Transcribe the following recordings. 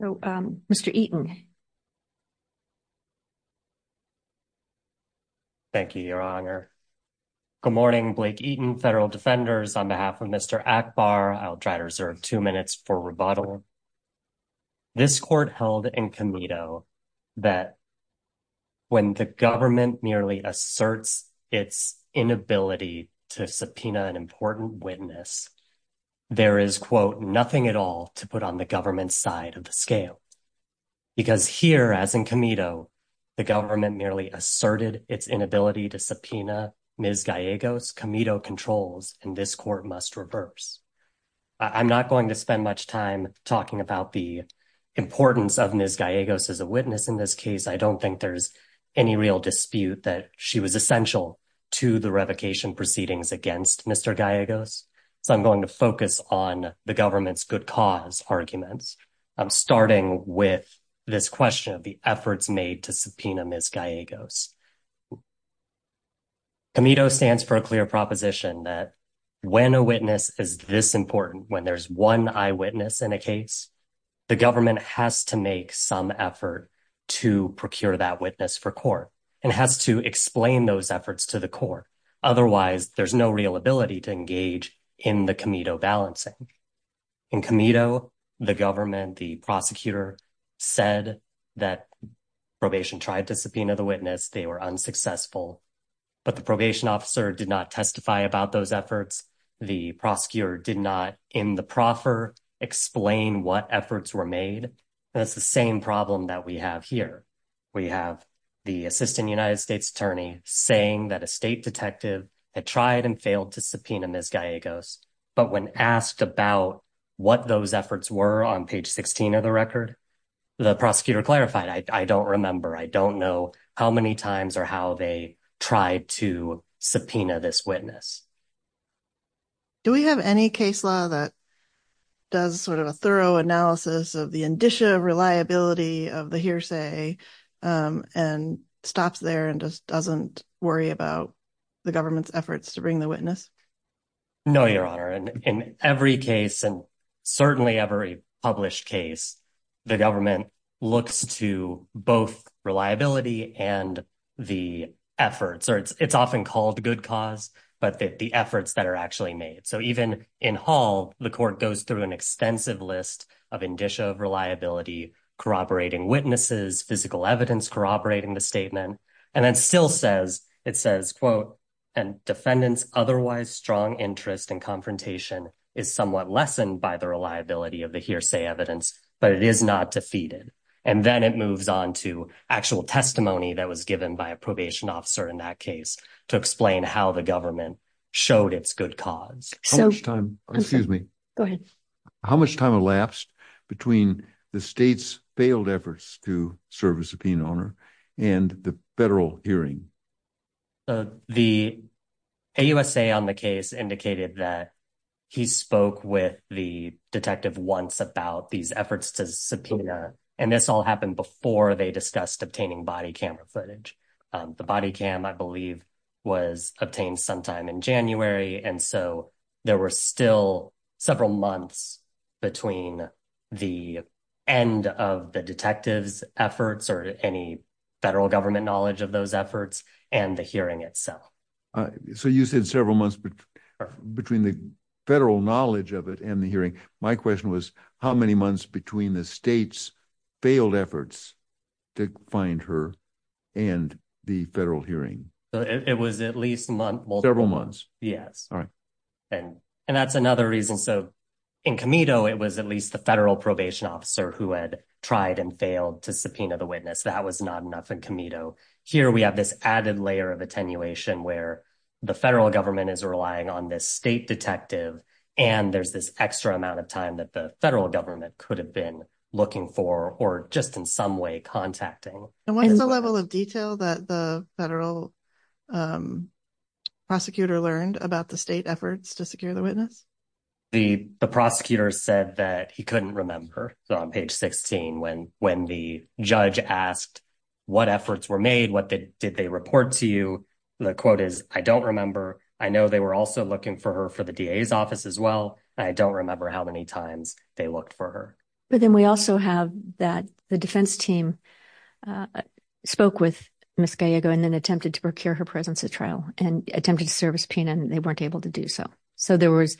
So, um, Mr Eaton Thank you. Your honor. Good morning. Blake Eaton. Federal defenders on behalf of Mr Akbar, I'll try to reserve two minutes for rebuttal. This court held in Comito that when the government merely asserts its inability to subpoena an important witness, there is quote nothing at all to put on the government side of the scale. Because here, as in Comito, the government merely asserted its inability to subpoena Ms. Gallegos, Comito controls, and this court must reverse. I'm not going to spend much time talking about the importance of Ms. Gallegos as a witness in this case. I don't think there's any real dispute that she was essential to the revocation proceedings against Mr. Gallegos. So I'm going to focus on the government's good cause arguments. I'm starting with this question of the efforts made to subpoena Ms. Gallegos. Comito stands for a clear proposition that when a witness is this important, when there's one eyewitness in a case, the government has to make some effort to procure that witness for court and has to explain those efforts to the court. Otherwise, there's no real ability to engage in the Comito balancing. In Comito, the government, the prosecutor said that probation tried to subpoena the witness, they were unsuccessful, but the probation officer did not testify about those efforts. The prosecutor did not in the proffer explain what efforts were made. That's the same problem that we have here. We have the assistant United States attorney saying that a state detective had tried and failed to subpoena Ms. Gallegos, but when asked about what those efforts were on page 16 of the record, the prosecutor clarified, I don't remember, I don't know how many times or how they tried to subpoena this witness. Do we have any case law that does sort of a thorough analysis of the indicia of reliability of the hearsay and stops there and just doesn't worry about the government's efforts to bring the witness? No, Your Honor. In every case, and certainly every published case, the government looks to both reliability and the efforts. It's often called good cause, but the efforts that are actually made. So even in Hall, the court goes through an extensive list of indicia of reliability, corroborating witnesses, physical evidence, corroborating the statement, and then still says, it says, quote, and defendants otherwise strong interest in confrontation is somewhat lessened by the reliability of the hearsay evidence, but it is not defeated. And then it moves on to actual testimony that was given by a probation officer in that case to explain how the government showed it's good cause. How much time elapsed between the state's failed efforts to serve a subpoena honor and the federal hearing? The AUSA on the case indicated that he spoke with the detective once about these efforts to subpoena, and this all happened before they discussed obtaining body camera footage. The body cam, I believe, was obtained sometime in January. And so there were still several months between the end of the detectives efforts or any federal government knowledge of those efforts and the hearing itself. So you said several months between the federal knowledge of it and the hearing. My question was, how many months between the state's failed efforts to find her and the federal hearing? It was at least several months. Yes. All right. And that's another reason. So in Comito, it was at least the federal probation officer who had tried and failed to subpoena the witness. That was not enough in Comito. Here we have this added layer of attenuation where the federal government is relying on this state detective and there's this extra amount of time that the federal government could have been looking for or just in some way contacting. And what's the level of detail that the federal prosecutor learned about the state efforts to secure the witness? The prosecutor said that he couldn't remember on page 16 when the judge asked what efforts were made, what did they report to you? The quote is, I don't remember. I know they were also looking for her for the DA's office as well. I don't remember how many times they looked for her. But then we also have that the defense team spoke with Ms. Gallego and then attempted to procure her presence at trial and attempted to service Pena and they weren't able to do so. So there was,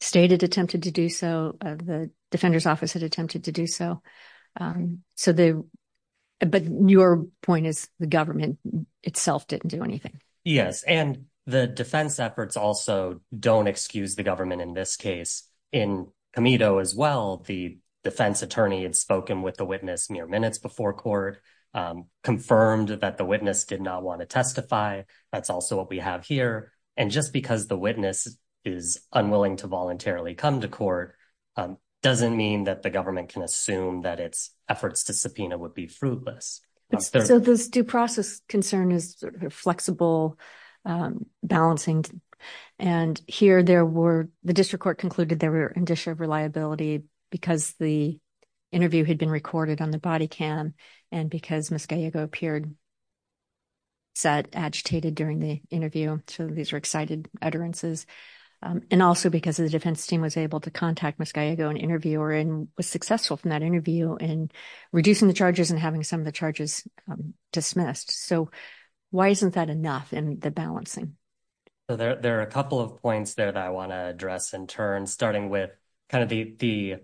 state had attempted to do so, the defender's office had attempted to do so. But your point is the government itself didn't do anything. Yes. And the defense efforts also don't excuse the government in this case. In Comito as well, the defense attorney had spoken with the witness mere minutes before court, confirmed that the witness did not want to testify. That's also what we have here. And just because the witness is unwilling to voluntarily come to court doesn't mean that the government can assume that its efforts to subpoena would be fruitless. So this due process concern is flexible, balancing. And here there were, the district court concluded there were an issue of reliability because the interview had been recorded on the body cam and because Ms. Gallego appeared sad, agitated during the interview. So these are excited utterances. And also because the defense team was able to contact Ms. Gallego and interview her and was successful from that interview and reducing the charges and having some of the charges dismissed. So why isn't that enough in the balancing? So there are a couple of points there that I want to address in turn, starting with kind of the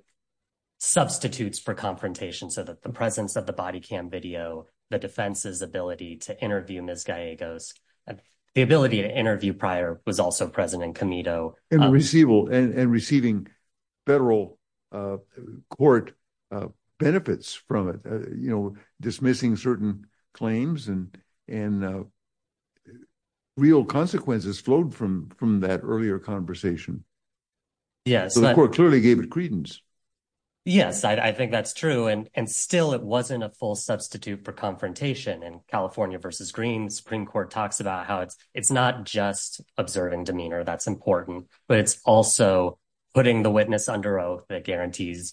substitutes for confrontation so that the presence of the body cam video, the defense's ability to interview Ms. Gallego's, the ability to interview prior was also present in Comito. And receiving federal court benefits from it, you know, dismissing certain claims and real consequences flowed from that earlier conversation. Yes. The court clearly gave it credence. Yes, I think that's true. And still, it wasn't a full substitute for confrontation. In California versus Green, Supreme Court talks about how it's not just observing demeanor that's important, but it's also putting the witness under oath that guarantees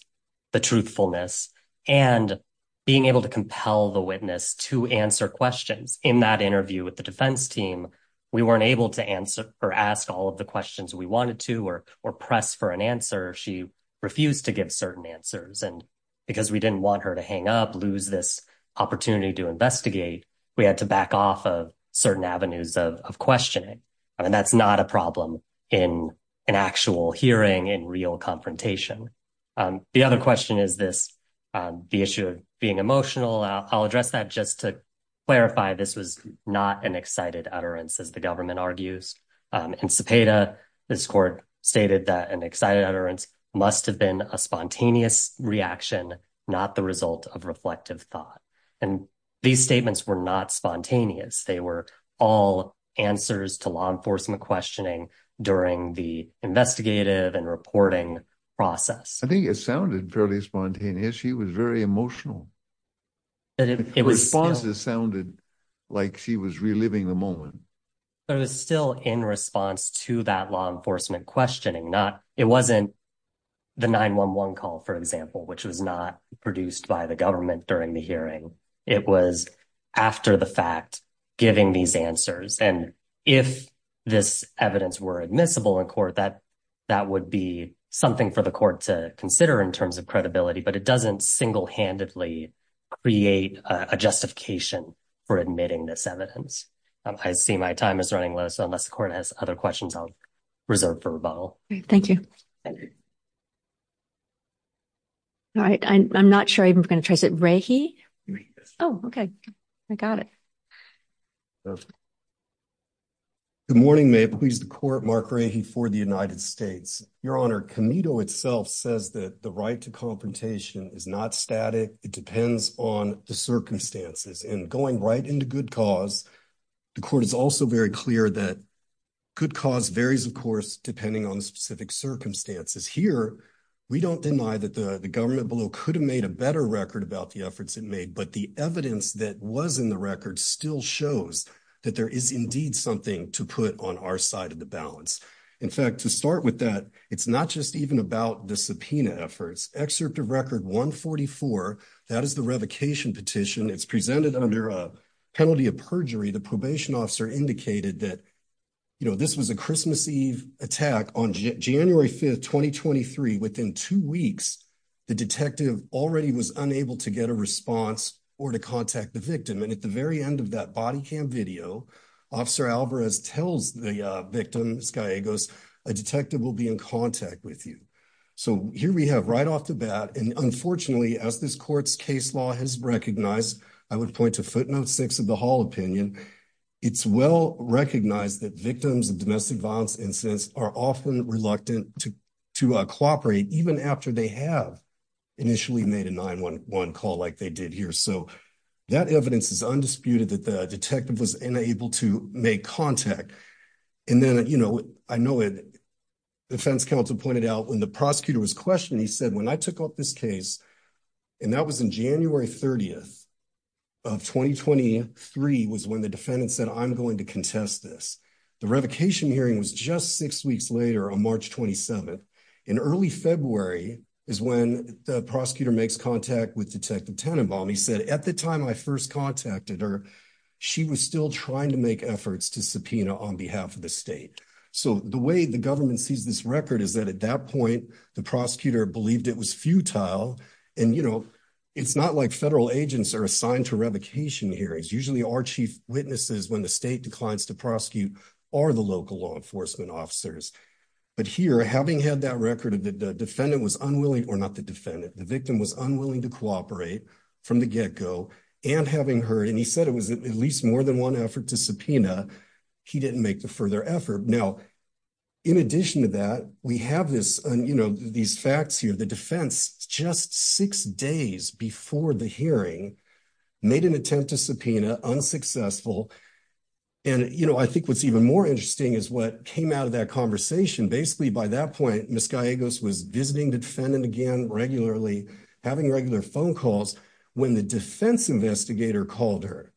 the truthfulness and being able to compel the witness to answer questions. In that interview with the defense team, we weren't able to answer or ask all of the questions we wanted to or press for an answer. She refused to give certain answers. And because we didn't want her to hang up, lose this opportunity to investigate, we had to back off of certain avenues of questioning. And that's not a problem in an actual hearing, in real confrontation. The other question is this, the issue of being emotional. I'll address that just to clarify. This was not an excited utterance, as the government argues. In Cepeda, this court stated that an excited utterance must have been a spontaneous reaction, not the result of reflective thought. And these statements were not spontaneous. They were all answers to law enforcement questioning during the investigative and reporting process. I think it sounded fairly spontaneous. She was very emotional. The responses sounded like she was reliving the moment. It was still in response to that law enforcement questioning. It wasn't the 911 call, for example, which was not produced by the government during the hearing. It was after the fact, giving these answers. And if this evidence were admissible in court, that would be something for the court to consider in terms of credibility. But it doesn't single-handedly create a justification for admitting this evidence. I see my time is running low, so unless the court has other questions, I'll reserve for rebuttal. Thank you. All right. I'm not sure if I'm going to try to say it. Rahe? Oh, okay. I got it. Good morning. May it please the court, Mark Rahe for the United States. Your Honor, Comito itself says that the right to confrontation is not static. It depends on the circumstances. And going right into good cause, the court is also very clear that good cause varies, of course, depending on the specific circumstances. Here, we don't deny that the government below could have made a better record about the efforts it made, but the evidence that was in the record still shows that there is indeed something to put on our side of the balance. In fact, to start with that, it's not just even about the subpoena efforts. Excerpt of record 144, that is the revocation petition. It's presented under a penalty of perjury. The probation officer indicated that this was a Christmas Eve attack on January 5th, 2023. Within two weeks, the detective already was unable to get a response or to contact the victim. And at the very end of that body cam video, Officer Alvarez tells the victim, this guy goes, a detective will be in contact with you. So here we have right off the bat, and unfortunately, as this court's case law has recognized, I would point to footnote six of the hall opinion. It's well recognized that victims of domestic violence incidents are often reluctant to cooperate, even after they have initially made a 911 call like they did here. So that evidence is undisputed that the detective was unable to make contact. And then, you know, I know it. Defense counsel pointed out when the prosecutor was questioning, he said, when I took up this case. And that was in January 30th of 2023 was when the defendant said, I'm going to contest this. The revocation hearing was just six weeks later on March 27th. In early February is when the prosecutor makes contact with detective. He said at the time I first contacted her. She was still trying to make efforts to subpoena on behalf of the state. So, the way the government sees this record is that at that point, the prosecutor believed it was futile. And, you know, it's not like federal agents are assigned to revocation hearings usually our chief witnesses when the state declines to prosecute or the local law enforcement officers. But here, having had that record of the defendant was unwilling or not the defendant, the victim was unwilling to cooperate from the get go and having heard and he said it was at least more than 1 effort to subpoena. He didn't make the further effort now. In addition to that, we have this, you know, these facts here, the defense just 6 days before the hearing made an attempt to subpoena unsuccessful. And, you know, I think what's even more interesting is what came out of that conversation. Basically, by that point was visiting the defendant again regularly having regular phone calls when the defense investigator called her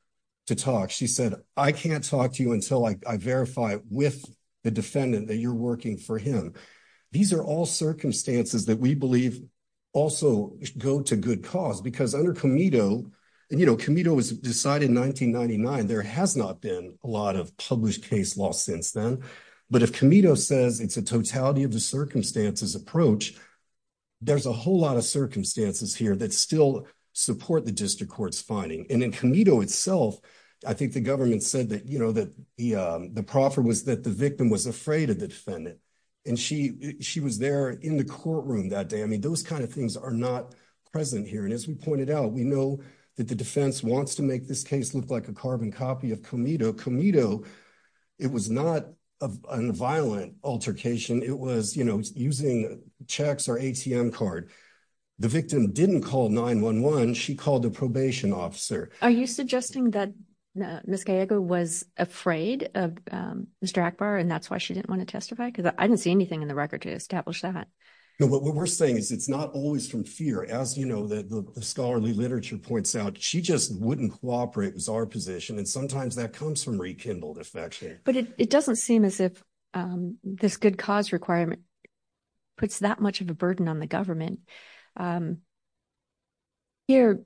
to talk. She said, I can't talk to you until I verify with the defendant that you're working for him. So, these are all circumstances that we believe also go to good cause because under Camino, and, you know, Camino was decided in 1999 there has not been a lot of published case law since then. But if Camino says it's a totality of the circumstances approach. There's a whole lot of circumstances here that still support the district courts finding and in Camino itself. I think the government said that, you know, that the proffer was that the victim was afraid of the defendant. And she, she was there in the courtroom that day. I mean, those kinds of things are not present here. And as we pointed out, we know that the defense wants to make this case look like a carbon copy of Camino Camino. It was not a violent altercation, it was, you know, using checks or ATM card. The victim didn't call 911 she called the probation officer. Are you suggesting that Miss Gallego was afraid of Mr Akbar and that's why she didn't want to testify because I didn't see anything in the record to establish that. What we're saying is it's not always from fear as you know that the scholarly literature points out she just wouldn't cooperate was our position and sometimes that comes from rekindled affection, but it doesn't seem as if this good cause requirement puts that much of a burden on the government. Here,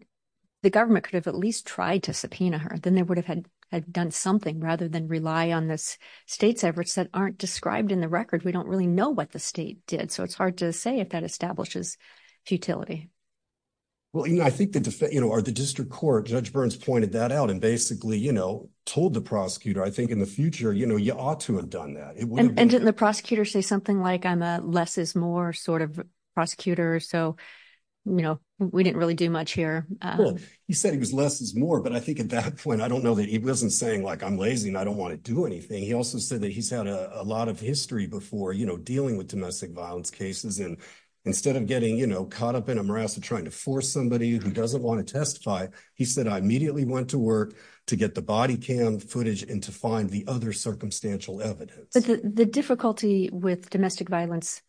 the government could have at least tried to subpoena her then they would have had done something rather than rely on this state's efforts that aren't described in the record we don't really know what the state did so it's hard to say if that establishes futility. Well, you know, I think that, you know, are the district court judge burns pointed that out and basically, you know, told the prosecutor I think in the future, you know, you ought to have done that. And the prosecutor say something like I'm a less is more sort of prosecutor. So, you know, we didn't really do much here. He said he was less is more but I think at that point I don't know that he wasn't saying like I'm lazy and I don't want to do anything. He also said that he's had a lot of history before, you know, dealing with domestic violence cases and instead of getting, you know, caught up in a morass of trying to force somebody who doesn't want to testify. He said I immediately went to work to get the body cam footage and to find the other circumstantial evidence. The difficulty with domestic violence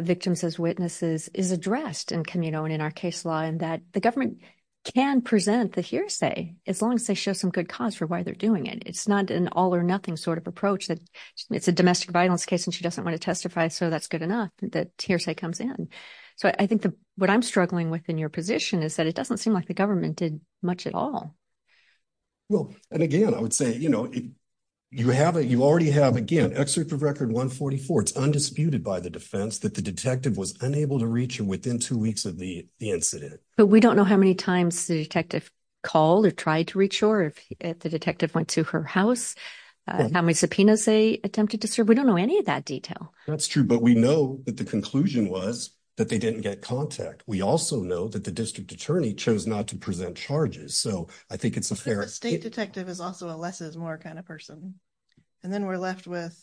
victims as witnesses is addressed and communal in our case law and that the government can present the hearsay as long as they show some good cause for why they're doing it. It's not an all or nothing sort of approach that it's a domestic violence case and she doesn't want to testify. So that's good enough that hearsay comes in. So I think what I'm struggling with in your position is that it doesn't seem like the government did much at all. Well, and again, I would say, you know, you have it, you already have again, excerpt of record 144. It's undisputed by the defense that the detective was unable to reach him within two weeks of the incident. But we don't know how many times the detective called or tried to reach or if the detective went to her house, how many subpoenas they attempted to serve. We don't know any of that detail. That's true. But we know that the conclusion was that they didn't get contact. We also know that the district attorney chose not to present charges. So I think it's a fair state detective is also a less is more kind of person. And then we're left with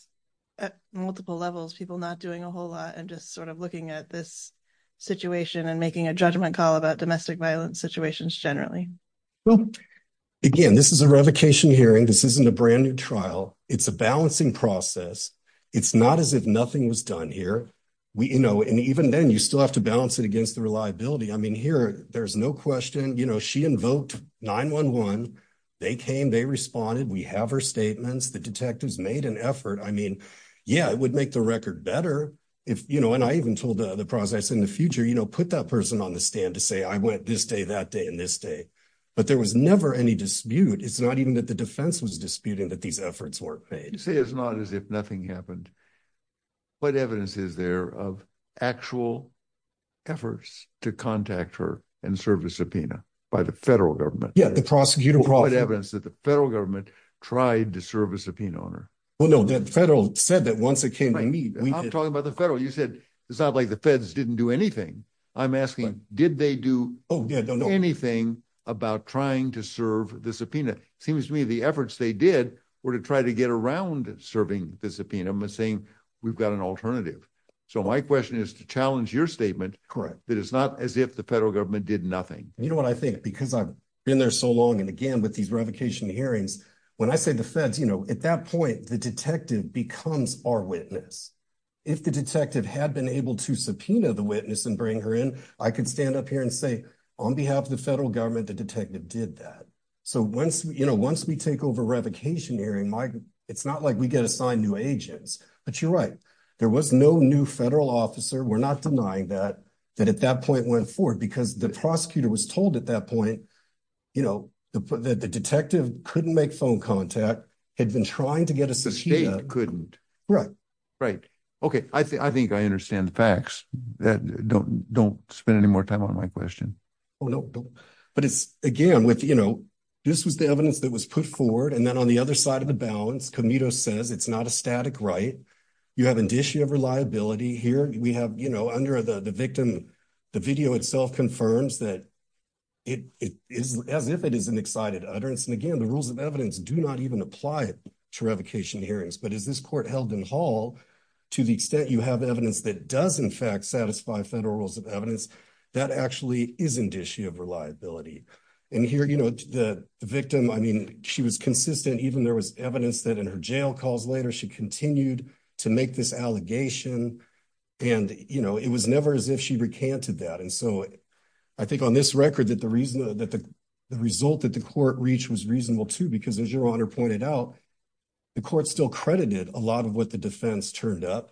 multiple levels people not doing a whole lot and just sort of looking at this situation and making a judgment call about domestic violence situations generally. Again, this is a revocation hearing. This isn't a brand new trial. It's a balancing process. It's not as if nothing was done here. We, you know, and even then you still have to balance it against the reliability. I mean, here, there's no question. You know, she invoked 911. They came, they responded. We have her statements. The detectives made an effort. I mean, yeah, it would make the record better. If you know, and I even told the process in the future, you know, put that person on the stand to say, I went this day, that day, and this day, but there was never any dispute. It's not even that the defense was disputing that these efforts were made. It's not as if nothing happened. But evidence is there of actual efforts to contact her and service subpoena by the federal government. Yeah, the prosecutor brought evidence that the federal government tried to serve a subpoena on her. Well, no, the federal said that once it came to me, I'm talking about the federal, you said, it's not like the feds didn't do anything. I'm asking, did they do anything about trying to serve the subpoena? Seems to me the efforts they did were to try to get around serving the subpoena missing. We've got an alternative. So my question is to challenge your statement, correct, that it's not as if the federal government did nothing. You know what I think because I've been there so long and again, with these revocation hearings, when I say the feds, you know, at that point, the detective becomes our witness. If the detective had been able to subpoena the witness and bring her in, I could stand up here and say, on behalf of the federal government, the detective did that. So, once we take over revocation hearing, it's not like we get assigned new agents, but you're right. There was no new federal officer. We're not denying that, that at that point went forward because the prosecutor was told at that point, you know, that the detective couldn't make phone contact, had been trying to get a subpoena. The state couldn't. Right. Right. Okay. I think I understand the facts. Don't spend any more time on my question. Oh, no, but it's again with, you know, this was the evidence that was put forward and then on the other side of the balance commuter says it's not a static right. You have an issue of reliability here we have, you know, under the victim. The video itself confirms that it is as if it is an excited utterance. And again, the rules of evidence do not even apply to revocation hearings. But is this court held in hall to the extent you have evidence that does, in fact, satisfy federal rules of evidence that actually is an issue of reliability. And here, you know, the victim, I mean, she was consistent even there was evidence that in her jail calls later, she continued to make this allegation. And, you know, it was never as if she recanted that. And so I think on this record that the reason that the result that the court reach was reasonable to because as your honor pointed out, the court still credited a lot of what the defense turned up.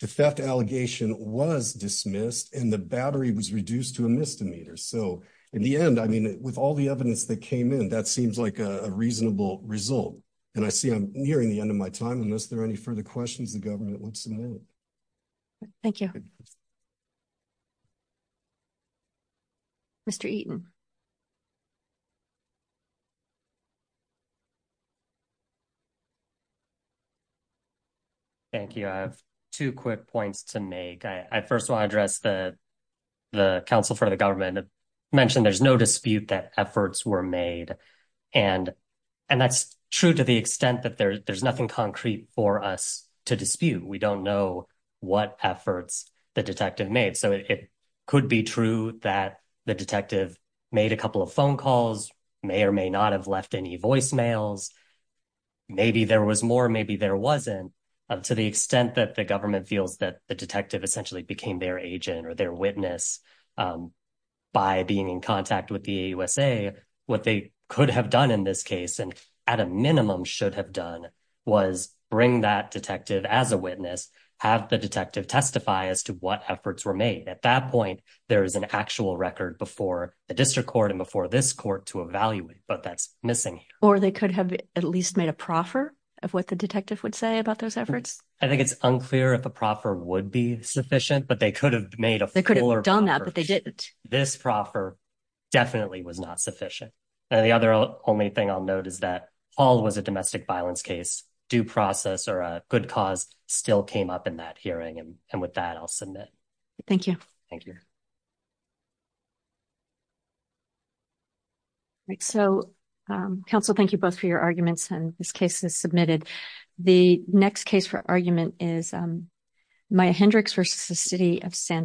The theft allegation was dismissed and the battery was reduced to a misdemeanor. So, in the end, I mean, with all the evidence that came in, that seems like a reasonable result. And I see I'm nearing the end of my time unless there are any further questions the government wants to move. Thank you. Mr. Eaton. Thank you. I have two quick points to make. I first want to address the, the council for the government mentioned there's no dispute that efforts were made. And, and that's true to the extent that there's nothing concrete for us to dispute. We don't know what efforts, the detective made so it could be true that the detective made a couple of phone calls may or may not have left any voicemails. Maybe there was more, maybe there wasn't up to the extent that the government feels that the detective essentially became their agent or their witness by being in contact with the USA. What they could have done in this case, and at a minimum should have done was bring that detective as a witness, have the detective testify as to what efforts were made at that point. There is an actual record before the district court and before this court to evaluate but that's missing, or they could have at least made a proffer of what the detective would say about those efforts. I think it's unclear if a proffer would be sufficient but they could have made a could have done that but they didn't. This proffer definitely was not sufficient. The other only thing I'll note is that all was a domestic violence case due process or a good cause still came up in that hearing and, and with that I'll submit. Thank you. Thank you. So, Council, thank you both for your arguments and this case is submitted. The next case for argument is my Hendricks versus the city of San Diego.